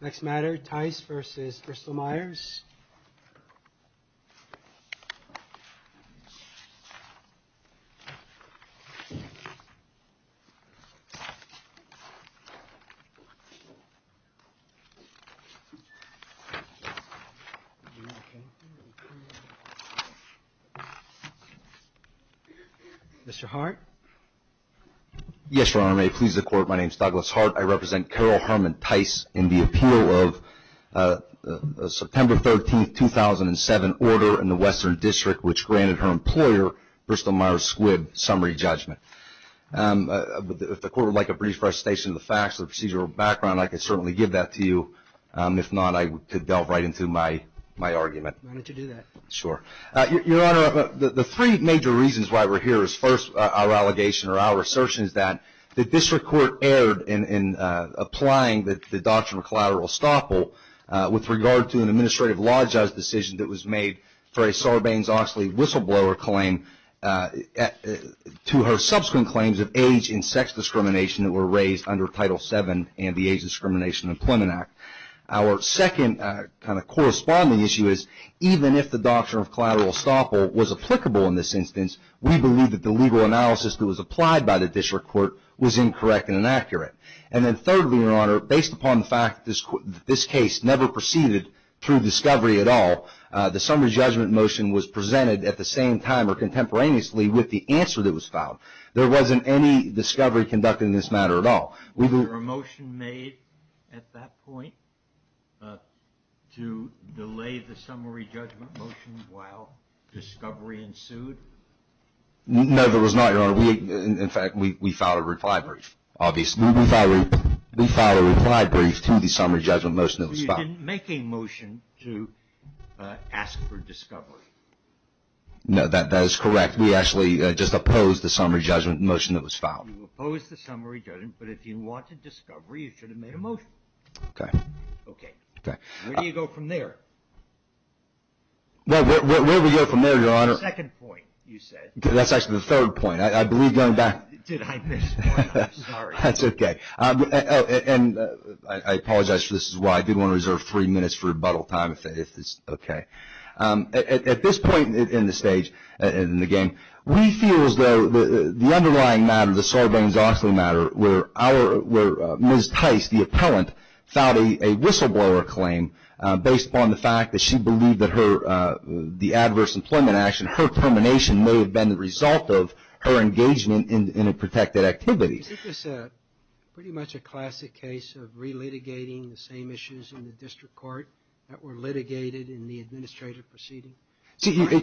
Next matter, Tice v. Bristol Myers. Mr. Hart? Yes, Your Honor, may it please the Court, my name is Douglas Hart. I represent Carol Herman Tice in the appeal of September 13, 2007 order in the Western District which granted her employer, Bristol Myers Squibb, summary judgment. If the Court would like a brief presentation of the facts and procedural background, I can certainly give that to you. If not, I could delve right into my argument. Why don't you do that? Sure. Your Honor, the three major reasons why we're here is first, our allegation or our assertion is that the District Court erred in applying the doctrine of collateral estoppel with regard to an administrative law judge decision that was made for a Sarbanes-Oxley whistleblower claim to her subsequent claims of age and sex discrimination that were raised under Title VII and the Age Discrimination Employment Act. Our second kind of corresponding issue is even if the doctrine of collateral estoppel was applicable in this instance, we believe that the legal analysis that was applied by the District Court was incorrect and inaccurate. And then thirdly, Your Honor, based upon the fact that this case never proceeded through discovery at all, the summary judgment motion was presented at the same time or contemporaneously with the answer that was filed. There wasn't any discovery conducted in this matter at all. Was there a motion made at that point to delay the summary judgment motion while discovery ensued? No, there was not, Your Honor. In fact, we filed a reply brief, obviously. We filed a reply brief to the summary judgment motion that was filed. So you didn't make a motion to ask for discovery? No, that is correct. We actually just opposed the summary judgment motion that was filed. You opposed the summary judgment, but if you wanted discovery, you should have made a motion. Okay. Okay. Okay. Where do you go from there? Well, where do we go from there, Your Honor? The second point, you said. That's actually the third point. I believe going back. Did I miss one? I'm sorry. That's okay. And I apologize for this. This is why I did want to reserve three minutes for rebuttal time if it's okay. At this point in the stage, in the game, we feel as though the underlying matter, the Sorbonne-Zoxley matter, where Ms. Tice, the appellant, filed a whistleblower claim based upon the fact that she believed that her, the adverse employment action, her termination may have been the result of her engagement in a protected activity. Isn't this pretty much a classic case of relitigating the same issues in the district court that were litigated in the administrative proceeding?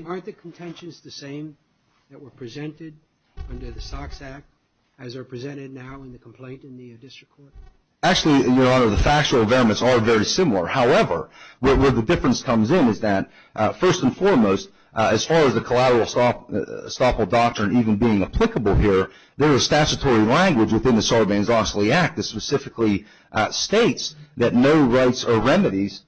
Aren't the contentions the same that were presented under the Sox Act as are presented now in the complaint in the district court? Actually, Your Honor, the factual environments are very similar. However, where the difference comes in is that, first and foremost, as far as the collateral estoppel doctrine even being language within the Sorbonne-Zoxley Act that specifically states that no rights or remedies,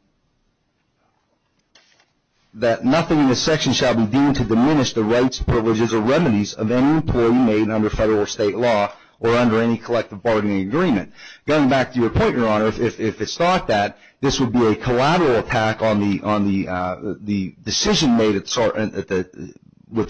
that nothing in this section shall be deemed to diminish the rights, privileges, or remedies of any employee made under federal or state law or under any collective bargaining agreement. Going back to your point, Your Honor, if it's thought that this would be a collateral attack on the decision made with the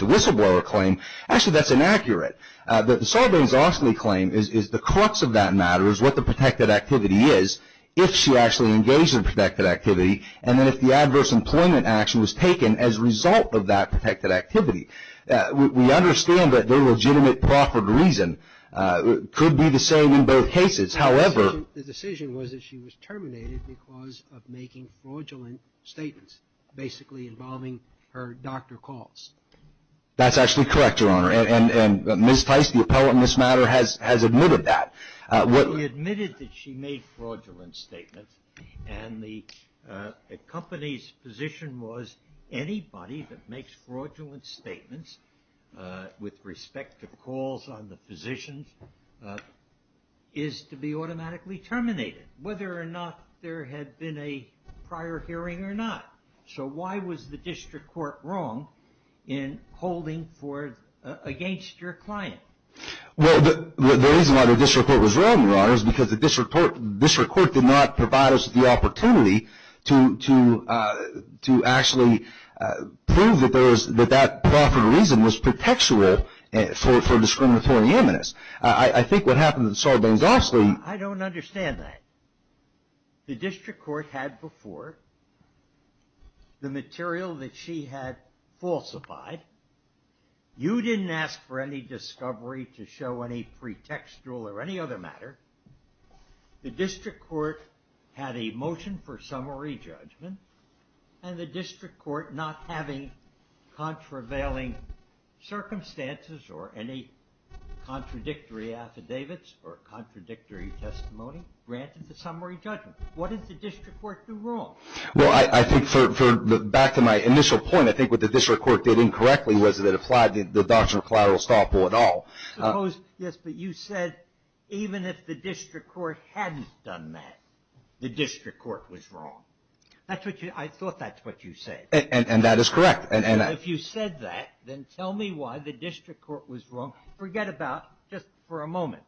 whistleblower claim, actually that's inaccurate. The Sorbonne-Zoxley claim is the crux of that matter is what the protected activity is if she actually engaged in protected activity and then if the adverse employment action was taken as a result of that protected activity. We understand that the legitimate proffered reason could be the same in both cases. However, The decision was that she was terminated because of making fraudulent statements basically involving her doctor calls. That's actually correct, Your Honor. And Ms. Theis, the appellate in this matter, has admitted that. She admitted that she made fraudulent statements and the company's position was anybody that makes fraudulent statements with respect to calls on the physicians is to be automatically terminated whether or not there had been a prior hearing or not. So why was the district court wrong in holding against your client? Well, the reason why the district court was wrong, Your Honor, is because the district court did not provide us the opportunity to actually prove that that proffered reason was pretextual for discriminatory eminence. I think what happened to the Sorbonne-Zoxley I don't understand that. The district court had before the material that she had falsified. You didn't ask for any discovery to show any pretextual or any other matter. The district court had a motion for summary judgment and the district court not having contravailing circumstances or any contradictory affidavits or contradictory testimony granted the summary judgment. What did the district court do wrong? Well, I think back to my initial point, I think what the district court did incorrectly was it applied the doctrine of collateral estoppel at all. Yes, but you said even if the district court hadn't done that, the district court was wrong. I thought that's what you said. And that is correct. If you said that, then tell me why the district court was wrong. Forget about, just for a moment,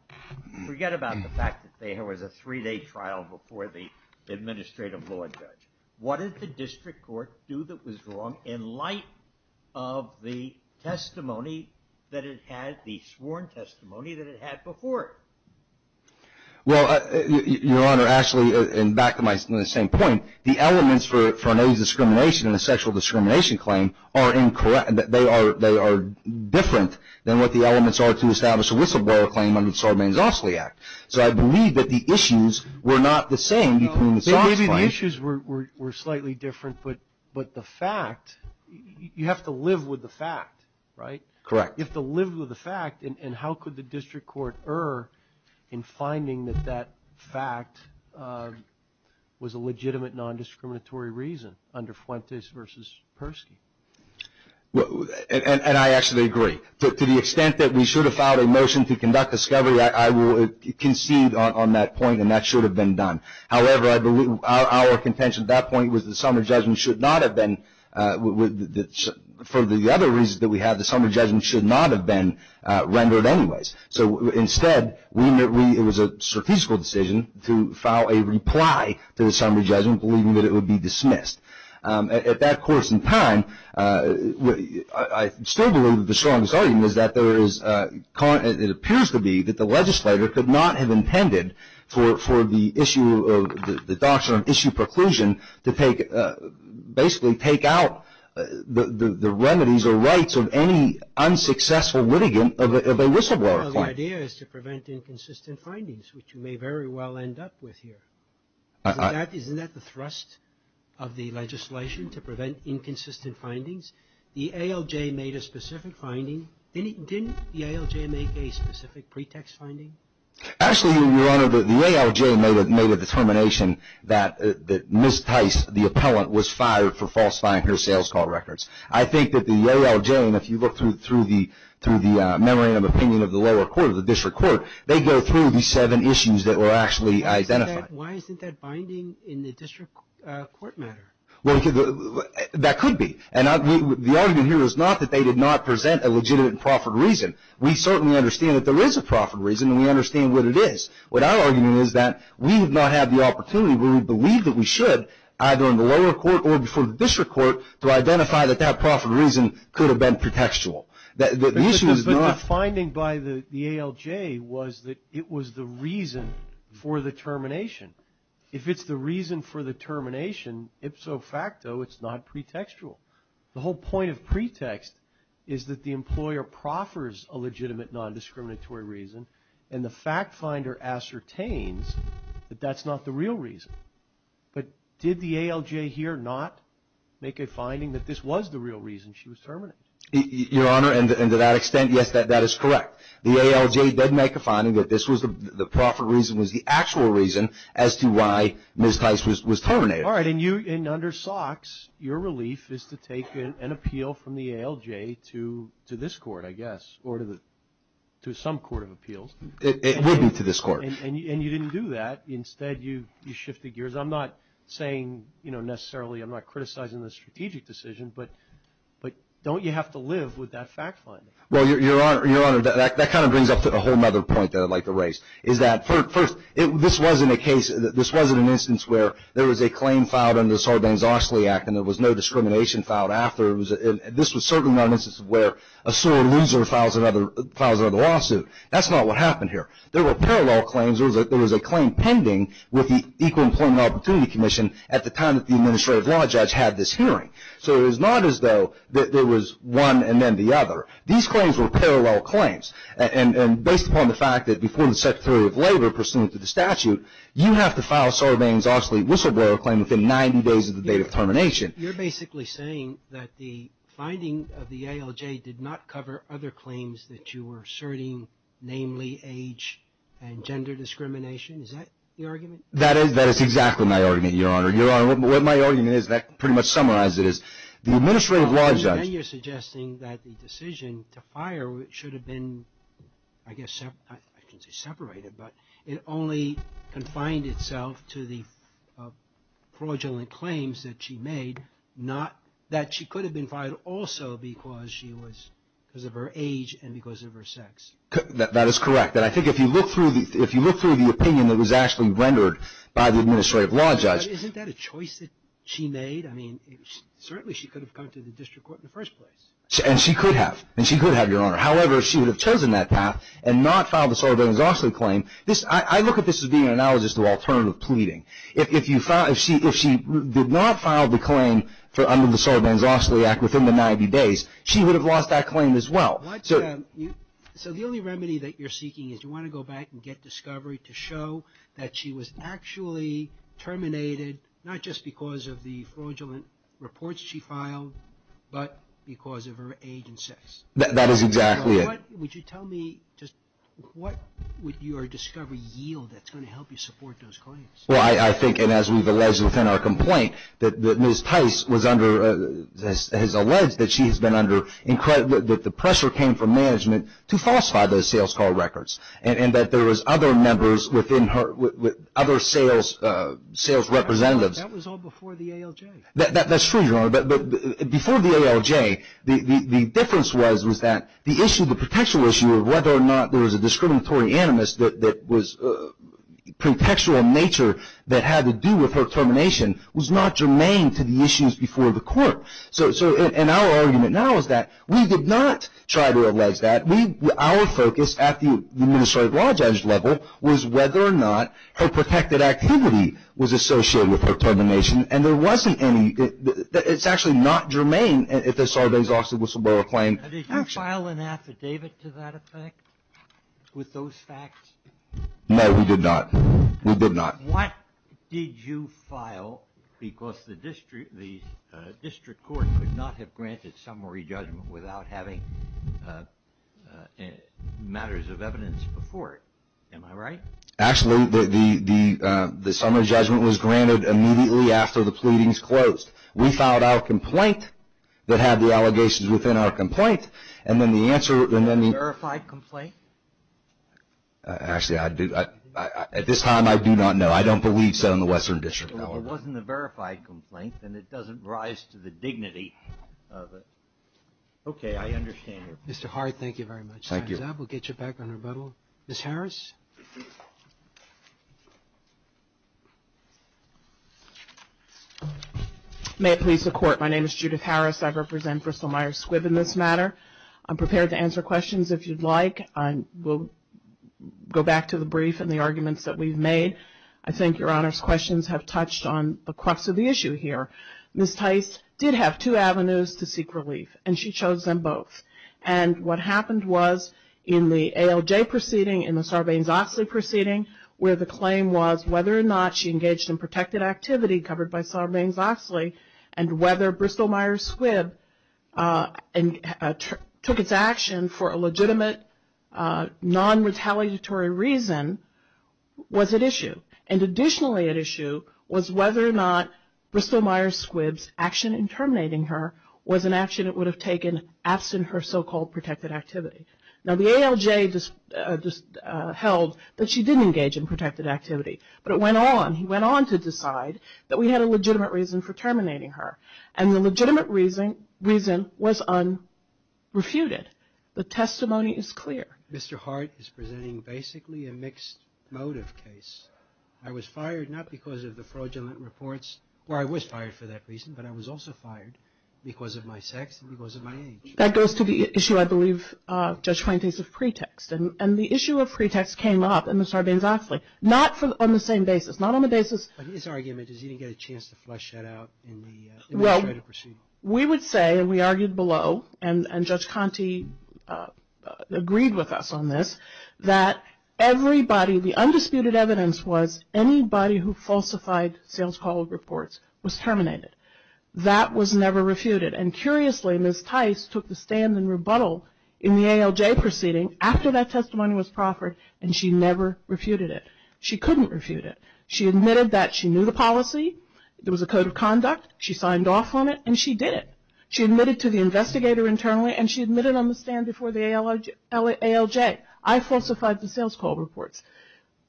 forget about the fact that there was a three-day trial before the administrative law judge. What did the district court do that was wrong in light of the testimony that it had, the sworn testimony that it had before it? Well, Your Honor, actually, and back to my initial point, the elements for an age discrimination and a sexual discrimination claim are incorrect. They are different than what the elements are to establish a whistleblower claim under the Sarbanes-Ostley Act. So I believe that the issues were not the same between the SOPS claim. Maybe the issues were slightly different, but the fact, you have to live with the fact, right? Correct. You have to live with the fact, and how could the district court err in finding that that fact was a legitimate, non-discriminatory reason under Fuentes v. Persky? And I actually agree. To the extent that we should have filed a motion to conduct discovery, I will concede on that point, and that should have been done. However, our contention at that point was the summary judgment should not have been, for the other reasons that we have, the summary judgment should not have been rendered anyways. So instead, it was a statistical decision to file a reply to the summary judgment, believing that it would be dismissed. At that course in time, I still believe that the strongest argument is that there is, it appears to be that the legislator could not have intended for the issue of, the doctrine of issue preclusion to basically take out the remedies or rights of any unsuccessful litigant of a whistleblower. Well, the idea is to prevent inconsistent findings, which you may very well end up with here. Isn't that the thrust of the legislation, to prevent inconsistent findings? The ALJ made a specific finding. Didn't the ALJ make a specific pretext finding? Actually, Your Honor, the ALJ made a determination that Ms. Tice, the appellant, was fired for falsifying her sales call records. I think that the ALJ, and if you look through the memorandum of opinion of the lower court, of the district court, they go through the seven issues that were actually identified. Why isn't that binding in the district court matter? Well, that could be. And the argument here is not that they did not present a legitimate and proper reason. We certainly understand that there is a proper reason, and we understand what it is. What our argument is that we have not had the opportunity where we believe that we should, either in the lower court or before the district court, to identify that that proper reason could have been pretextual. But the finding by the ALJ was that it was the reason for the termination. If it's the reason for the termination, ipso facto, it's not pretextual. The whole point of pretext is that the employer proffers a legitimate nondiscriminatory reason, and the fact finder ascertains that that's not the real reason. But did the ALJ here not make a finding that this was the real reason she was terminated? Your Honor, and to that extent, yes, that is correct. The ALJ did make a finding that this was the proper reason, was the actual reason as to why Ms. Tice was terminated. All right. And under Sox, your relief is to take an appeal from the ALJ to this court, I guess, or to some court of appeals. It would be to this court. And you didn't do that. Instead, you shifted gears. I'm not saying, you know, necessarily I'm not criticizing the strategic decision, but don't you have to live with that fact finding? Well, Your Honor, that kind of brings up a whole other point that I'd like to raise. First, this wasn't an instance where there was a claim filed under the Sarbanes-Oxley Act and there was no discrimination filed after. This was certainly not an instance where a sore loser files another lawsuit. That's not what happened here. There were parallel claims. There was a claim pending with the Equal Employment Opportunity Commission at the time that the administrative law judge had this hearing. So it was not as though there was one and then the other. These claims were parallel claims. And based upon the fact that before the Secretary of Labor, pursuant to the statute, you have to file Sarbanes-Oxley whistleblower claim within 90 days of the date of termination. You're basically saying that the finding of the ALJ did not cover other claims that you were asserting, namely age and gender discrimination. Is that your argument? That is exactly my argument, Your Honor. Your Honor, what my argument is, and I can pretty much summarize it, is the administrative law judge Now you're suggesting that the decision to fire should have been, I guess, I shouldn't say separated, but it only confined itself to the fraudulent claims that she made, not that she could have been fired also because she was, because of her age and because of her sex. That is correct. And I think if you look through the opinion that was actually rendered by the administrative law judge Isn't that a choice that she made? I mean, certainly she could have gone to the district court in the first place. And she could have. And she could have, Your Honor. However, she would have chosen that path and not filed the Sarbanes-Oxley claim. I look at this as being an analogous to alternative pleading. If she did not file the claim under the Sarbanes-Oxley Act within the 90 days, she would have lost that claim as well. So the only remedy that you're seeking is you want to go back and get discovery to show that she was actually terminated, not just because of the fraudulent reports she filed, but because of her age and sex. That is exactly it. Would you tell me just what would your discovery yield that's going to help you support those claims? Well, I think, and as we've alleged within our complaint, that Ms. Tice was under, has alleged that she has been under, that the pressure came from management to falsify those sales call records. And that there was other members within her, other sales representatives. That was all before the ALJ. That's true, Your Honor. But before the ALJ, the difference was that the issue, the potential issue of whether or not there was a discriminatory animus that was contextual in nature that had to do with her termination was not germane to the issues before the court. So in our argument now is that we did not try to allege that. Our focus at the administrative law judge level was whether or not her protected activity was associated with her termination. And there wasn't any. It's actually not germane if the surveys also whistleblower claim action. Did you file an affidavit to that effect with those facts? No, we did not. We did not. What did you file because the district court could not have granted summary judgment without having matters of evidence before it? Am I right? Actually, the summary judgment was granted immediately after the pleadings closed. We filed our complaint that had the allegations within our complaint. And then the answer, and then the Verified complaint? Actually, I do. At this time, I do not know. I don't believe so in the Western District. If it wasn't the verified complaint, then it doesn't rise to the dignity of it. Okay, I understand. Mr. Hart, thank you very much. Time's up. We'll get you back on rebuttal. Ms. Harris? May it please the Court. My name is Judith Harris. I represent Bristol-Myers Squibb in this matter. I'm prepared to answer questions if you'd like. We'll go back to the brief and the arguments that we've made. I think Your Honor's questions have touched on the crux of the issue here. Ms. Tice did have two avenues to seek relief, and she chose them both. And what happened was in the ALJ proceeding, in the Sarbanes-Oxley proceeding, where the claim was whether or not she engaged in protected activity covered by Sarbanes-Oxley and whether Bristol-Myers Squibb took its action for a legitimate, non-retaliatory reason was at issue. And additionally at issue was whether or not Bristol-Myers Squibb's action in terminating her was an action it would have taken absent her so-called protected activity. Now the ALJ just held that she did engage in protected activity. But it went on. And he went on to decide that we had a legitimate reason for terminating her. And the legitimate reason was unrefuted. The testimony is clear. Mr. Hart is presenting basically a mixed motive case. I was fired not because of the fraudulent reports, where I was fired for that reason, but I was also fired because of my sex and because of my age. That goes to the issue, I believe, Judge Pointing, of pretext. And the issue of pretext came up in the Sarbanes-Oxley. Not on the same basis. Not on the basis. But his argument is he didn't get a chance to flesh that out in the administrative proceeding. Well, we would say, and we argued below, and Judge Conte agreed with us on this, that everybody, the undisputed evidence was anybody who falsified sales call reports was terminated. That was never refuted. And curiously, Ms. Tice took the stand in rebuttal in the ALJ proceeding after that testimony was proffered, and she never refuted it. She couldn't refute it. She admitted that she knew the policy. There was a code of conduct. She signed off on it, and she did it. She admitted to the investigator internally, and she admitted on the stand before the ALJ. I falsified the sales call reports.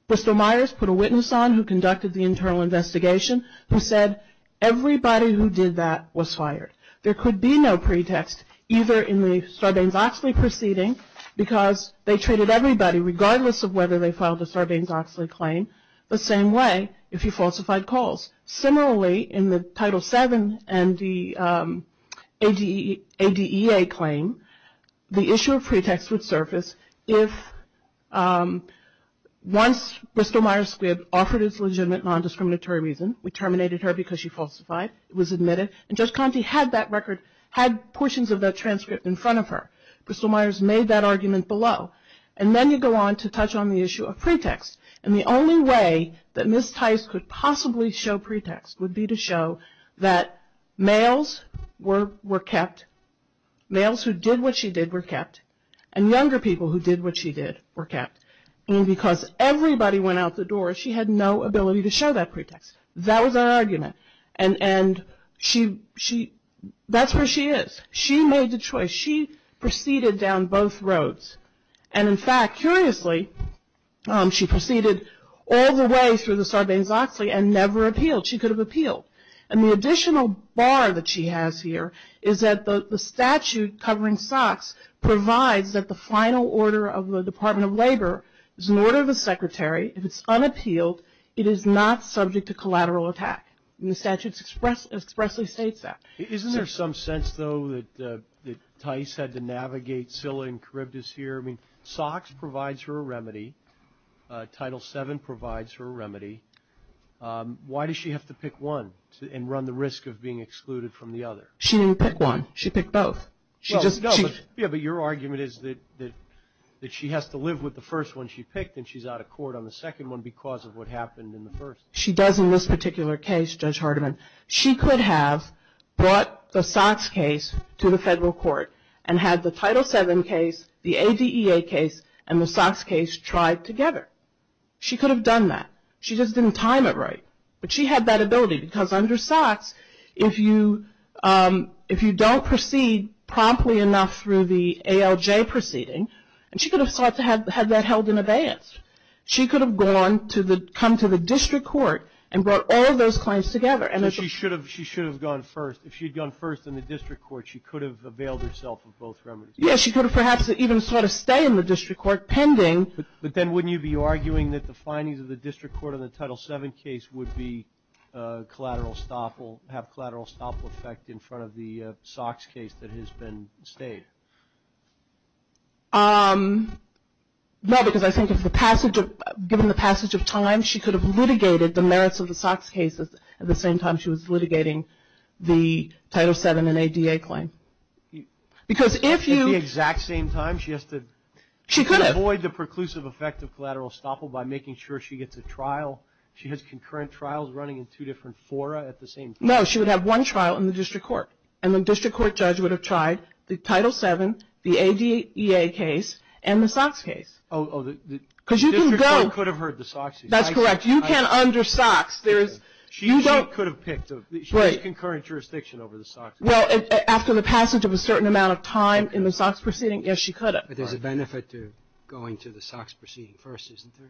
Bristol Myers put a witness on who conducted the internal investigation who said, everybody who did that was fired. There could be no pretext, either in the Sarbanes-Oxley proceeding, because they treated everybody, regardless of whether they filed a Sarbanes-Oxley claim, the same way if you falsified calls. Similarly, in the Title VII and the ADEA claim, the issue of pretext would surface if once Bristol Myers Squibb offered his legitimate nondiscriminatory reason, we terminated her because she falsified, it was admitted, and Judge Conte had that record, had portions of that transcript in front of her. Bristol Myers made that argument below. And then you go on to touch on the issue of pretext. And the only way that Ms. Tice could possibly show pretext would be to show that males were kept, males who did what she did were kept, and younger people who did what she did were kept. And because everybody went out the door, she had no ability to show that pretext. That was her argument. And that's where she is. She made the choice. She proceeded down both roads. And, in fact, curiously, she proceeded all the way through the Sarbanes-Oxley and never appealed. She could have appealed. And the additional bar that she has here is that the statute covering SOX provides that the final order of the And the statute expressly states that. Isn't there some sense, though, that Tice had to navigate Scilla and Charybdis here? I mean, SOX provides her a remedy. Title VII provides her a remedy. Why does she have to pick one and run the risk of being excluded from the other? She didn't pick one. She picked both. Yeah, but your argument is that she has to live with the first one she picked, and she's out of court on the second one because of what happened in the first. She does in this particular case, Judge Hardiman, she could have brought the SOX case to the federal court and had the Title VII case, the ADEA case, and the SOX case tried together. She could have done that. She just didn't time it right. But she had that ability because under SOX, if you don't proceed promptly enough through the ALJ proceeding, and she could have sought to have that held in advance. She could have come to the district court and brought all those claims together. She should have gone first. If she had gone first in the district court, she could have availed herself of both remedies. Yeah, she could have perhaps even sought to stay in the district court pending. But then wouldn't you be arguing that the findings of the district court on the Title VII case would have collateral stop effect in front of the SOX case that has been stayed? No, because I think given the passage of time, she could have litigated the merits of the SOX case at the same time she was litigating the Title VII and ADEA claim. At the exact same time, she has to avoid the preclusive effect of collateral estoppel by making sure she gets a trial. She has concurrent trials running in two different fora at the same time. No, she would have one trial in the district court. And the district court judge would have tried the Title VII case the ADEA case and the SOX case. Oh, the district court could have heard the SOX case. That's correct. You can't under SOX. She could have picked. She has concurrent jurisdiction over the SOX case. Well, after the passage of a certain amount of time in the SOX proceeding, yes, she could have. But there's a benefit to going to the SOX proceeding first, isn't there?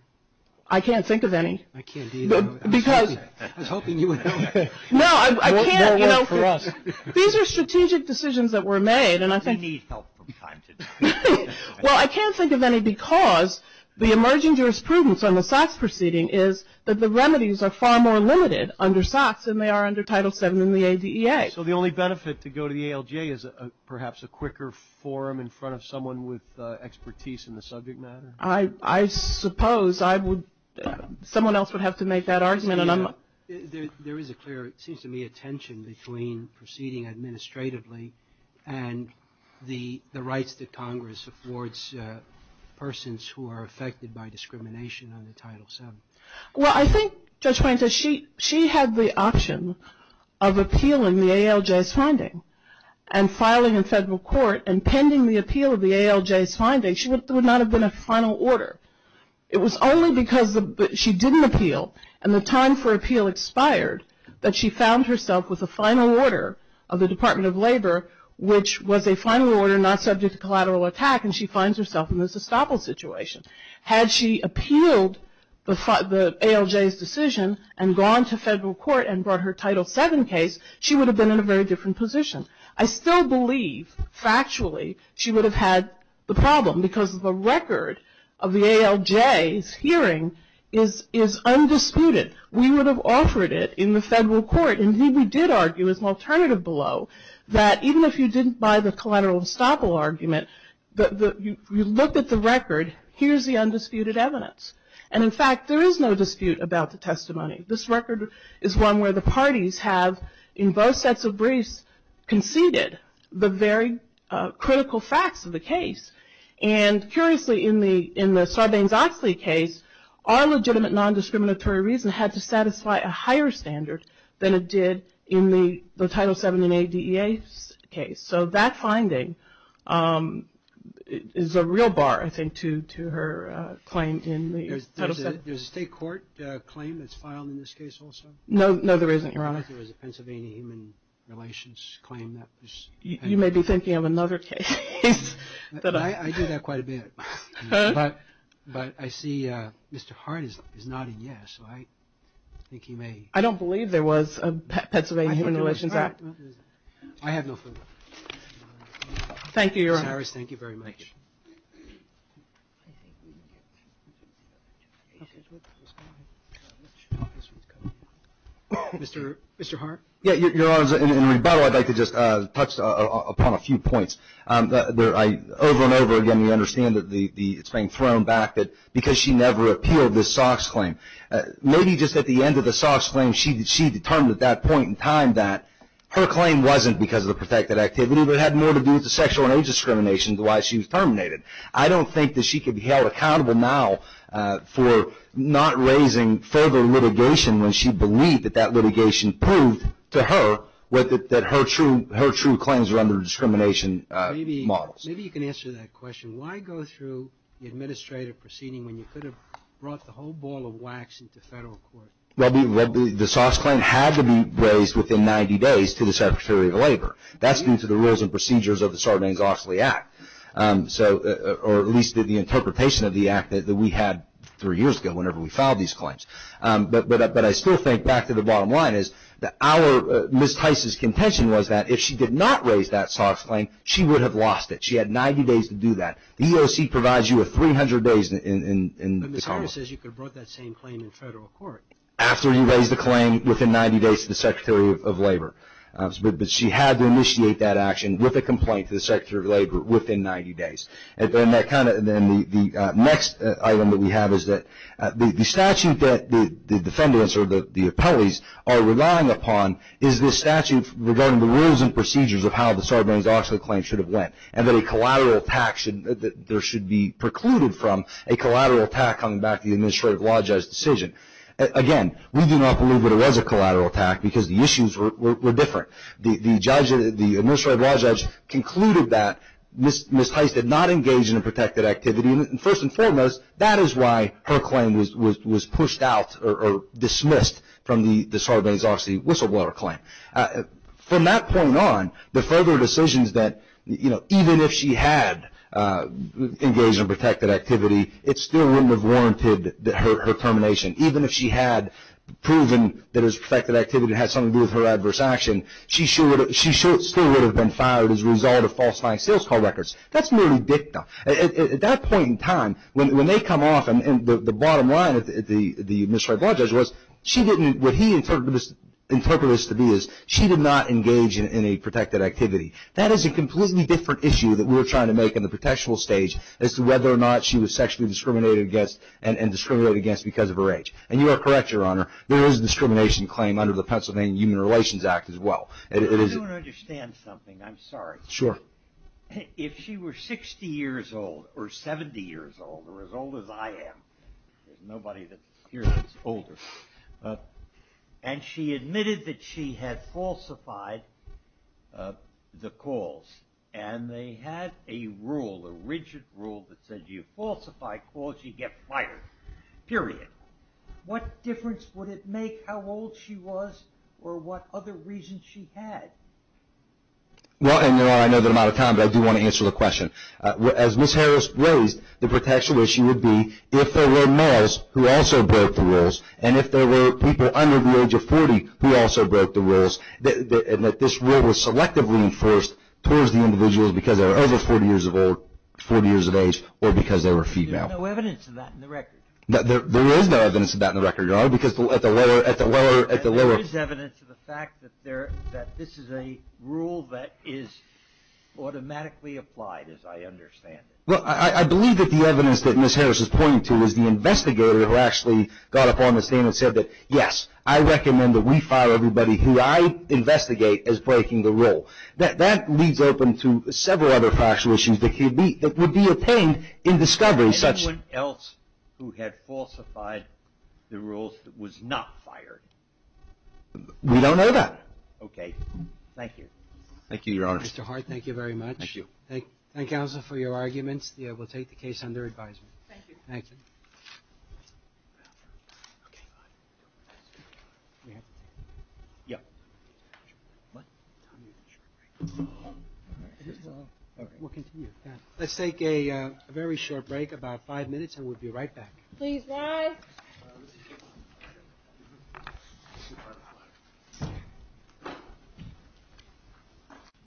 I can't think of any. I can't either. I was hoping you would know that. No, I can't. These are strategic decisions that were made. We need help from time to time. Well, I can't think of any because the emerging jurisprudence on the SOX proceeding is that the remedies are far more limited under SOX than they are under Title VII and the ADEA. So the only benefit to go to the ALGA is perhaps a quicker forum in front of someone with expertise in the subject matter? I suppose I would – someone else would have to make that argument. There is a clear, it seems to me, a tension between proceeding administratively and the rights that Congress affords persons who are affected by discrimination under Title VII. Well, I think Judge Poynter, she had the option of appealing the ALJ's finding and filing in federal court and pending the appeal of the ALJ's finding, there would not have been a final order. It was only because she didn't appeal and the time for appeal expired that she found herself with a final order of the Department of Labor, which was a final order not subject to collateral attack, and she finds herself in this estoppel situation. Had she appealed the ALJ's decision and gone to federal court and brought her Title VII case, she would have been in a very different position. I still believe, factually, she would have had the problem because the record of the ALJ's hearing is undisputed. We would have offered it in the federal court. Indeed, we did argue as an alternative below that even if you didn't buy the collateral estoppel argument, you looked at the record, here's the undisputed evidence. And in fact, there is no dispute about the testimony. This record is one where the parties have, in both sets of briefs, conceded the very critical facts of the case. And curiously, in the Sarbanes-Oxley case, our legitimate nondiscriminatory reason had to satisfy a higher standard than it did in the Title VII and ADEA case. So that finding is a real bar, I think, to her claim in the Title VII. There's a state court claim that's filed in this case also? No, there isn't, Your Honor. I thought there was a Pennsylvania Human Relations claim. You may be thinking of another case. I do that quite a bit. But I see Mr. Hart is nodding yes, so I think he may. I don't believe there was a Pennsylvania Human Relations Act. I have no further. Thank you, Your Honor. Mr. Harris, thank you very much. Mr. Hart? Yeah, Your Honor, in rebuttal, I'd like to just touch upon a few points. Over and over again, we understand that it's being thrown back because she never appealed this Sox claim. Maybe just at the end of the Sox claim, she determined at that point in time that her claim wasn't because of the protected activity, but it had more to do with the sexual and age discrimination than why she was terminated. I don't think that she could be held accountable now for not raising further litigation when she believed that that litigation proved to her that her true claims were under discrimination models. Maybe you can answer that question. Why go through the administrative proceeding when you could have brought the whole ball of wax into federal court? Well, the Sox claim had to be raised within 90 days to the Secretary of Labor. That's due to the rules and procedures of the Sarbanes-Oxley Act, or at least the interpretation of the Act that we had three years ago whenever we filed these claims. But I still think, back to the bottom line, is that Ms. Tice's contention was that if she did not raise that Sox claim, she would have lost it. She had 90 days to do that. The EEOC provides you with 300 days in the common law. But Ms. Harris says you could have brought that same claim in federal court. After you raised the claim, within 90 days to the Secretary of Labor. But she had to initiate that action with a complaint to the Secretary of Labor within 90 days. And the next item that we have is that the statute that the defendants, or the appellees, are relying upon is the statute regarding the rules and procedures of how the Sarbanes-Oxley claim should have went, and that there should be precluded from a collateral attack coming back to the administrative law judge's decision. Again, we do not believe that it was a collateral attack because the issues were different. The administrative law judge concluded that Ms. Tice did not engage in a protected activity. And first and foremost, that is why her claim was pushed out or dismissed from the Sarbanes-Oxley whistleblower claim. From that point on, the further decisions that, you know, even if she had engaged in a protected activity, it still wouldn't have warranted her termination. Even if she had proven that it was a protected activity that had something to do with her adverse action, she still would have been fired as a result of falsifying sales call records. That's merely dicta. At that point in time, when they come off, and the bottom line of the administrative law judge was, what he interpreted this to be is she did not engage in any protected activity. That is a completely different issue that we're trying to make in the protection stage as to whether or not she was sexually discriminated against and discriminated against because of her age. And you are correct, Your Honor, there is a discrimination claim under the Pennsylvania Human Relations Act as well. I do want to understand something. I'm sorry. Sure. If she were 60 years old or 70 years old or as old as I am, there's nobody here that's older, and she admitted that she had falsified the calls, and they had a rule, a rigid rule that said you falsify calls, you get fired. Period. What difference would it make how old she was or what other reasons she had? Well, Your Honor, I know that I'm out of time, but I do want to answer the question. As Ms. Harris raised, the protection issue would be if there were males who also broke the rules, and if there were people under the age of 40 who also broke the rules, and that this rule was selectively enforced towards the individuals because they were over 40 years of age or because they were female. There's no evidence of that in the record. There is no evidence of that in the record, Your Honor, because at the lower... There is evidence of the fact that this is a rule that is automatically applied, as I understand it. Well, I believe that the evidence that Ms. Harris is pointing to is the investigator who actually got up on the scene and said that, yes, I recommend that we fire everybody who I investigate as breaking the rule. That leaves open to several other fluctuations that would be obtained in discovery such... Anyone else who had falsified the rules was not fired? We don't know that. Okay. Thank you. Thank you, Your Honor. Mr. Hart, thank you very much. Thank you. Counsel, for your arguments, we'll take the case under advisement. Thank you. Thank you. Let's take a very short break, about five minutes, and we'll be right back. Please rise.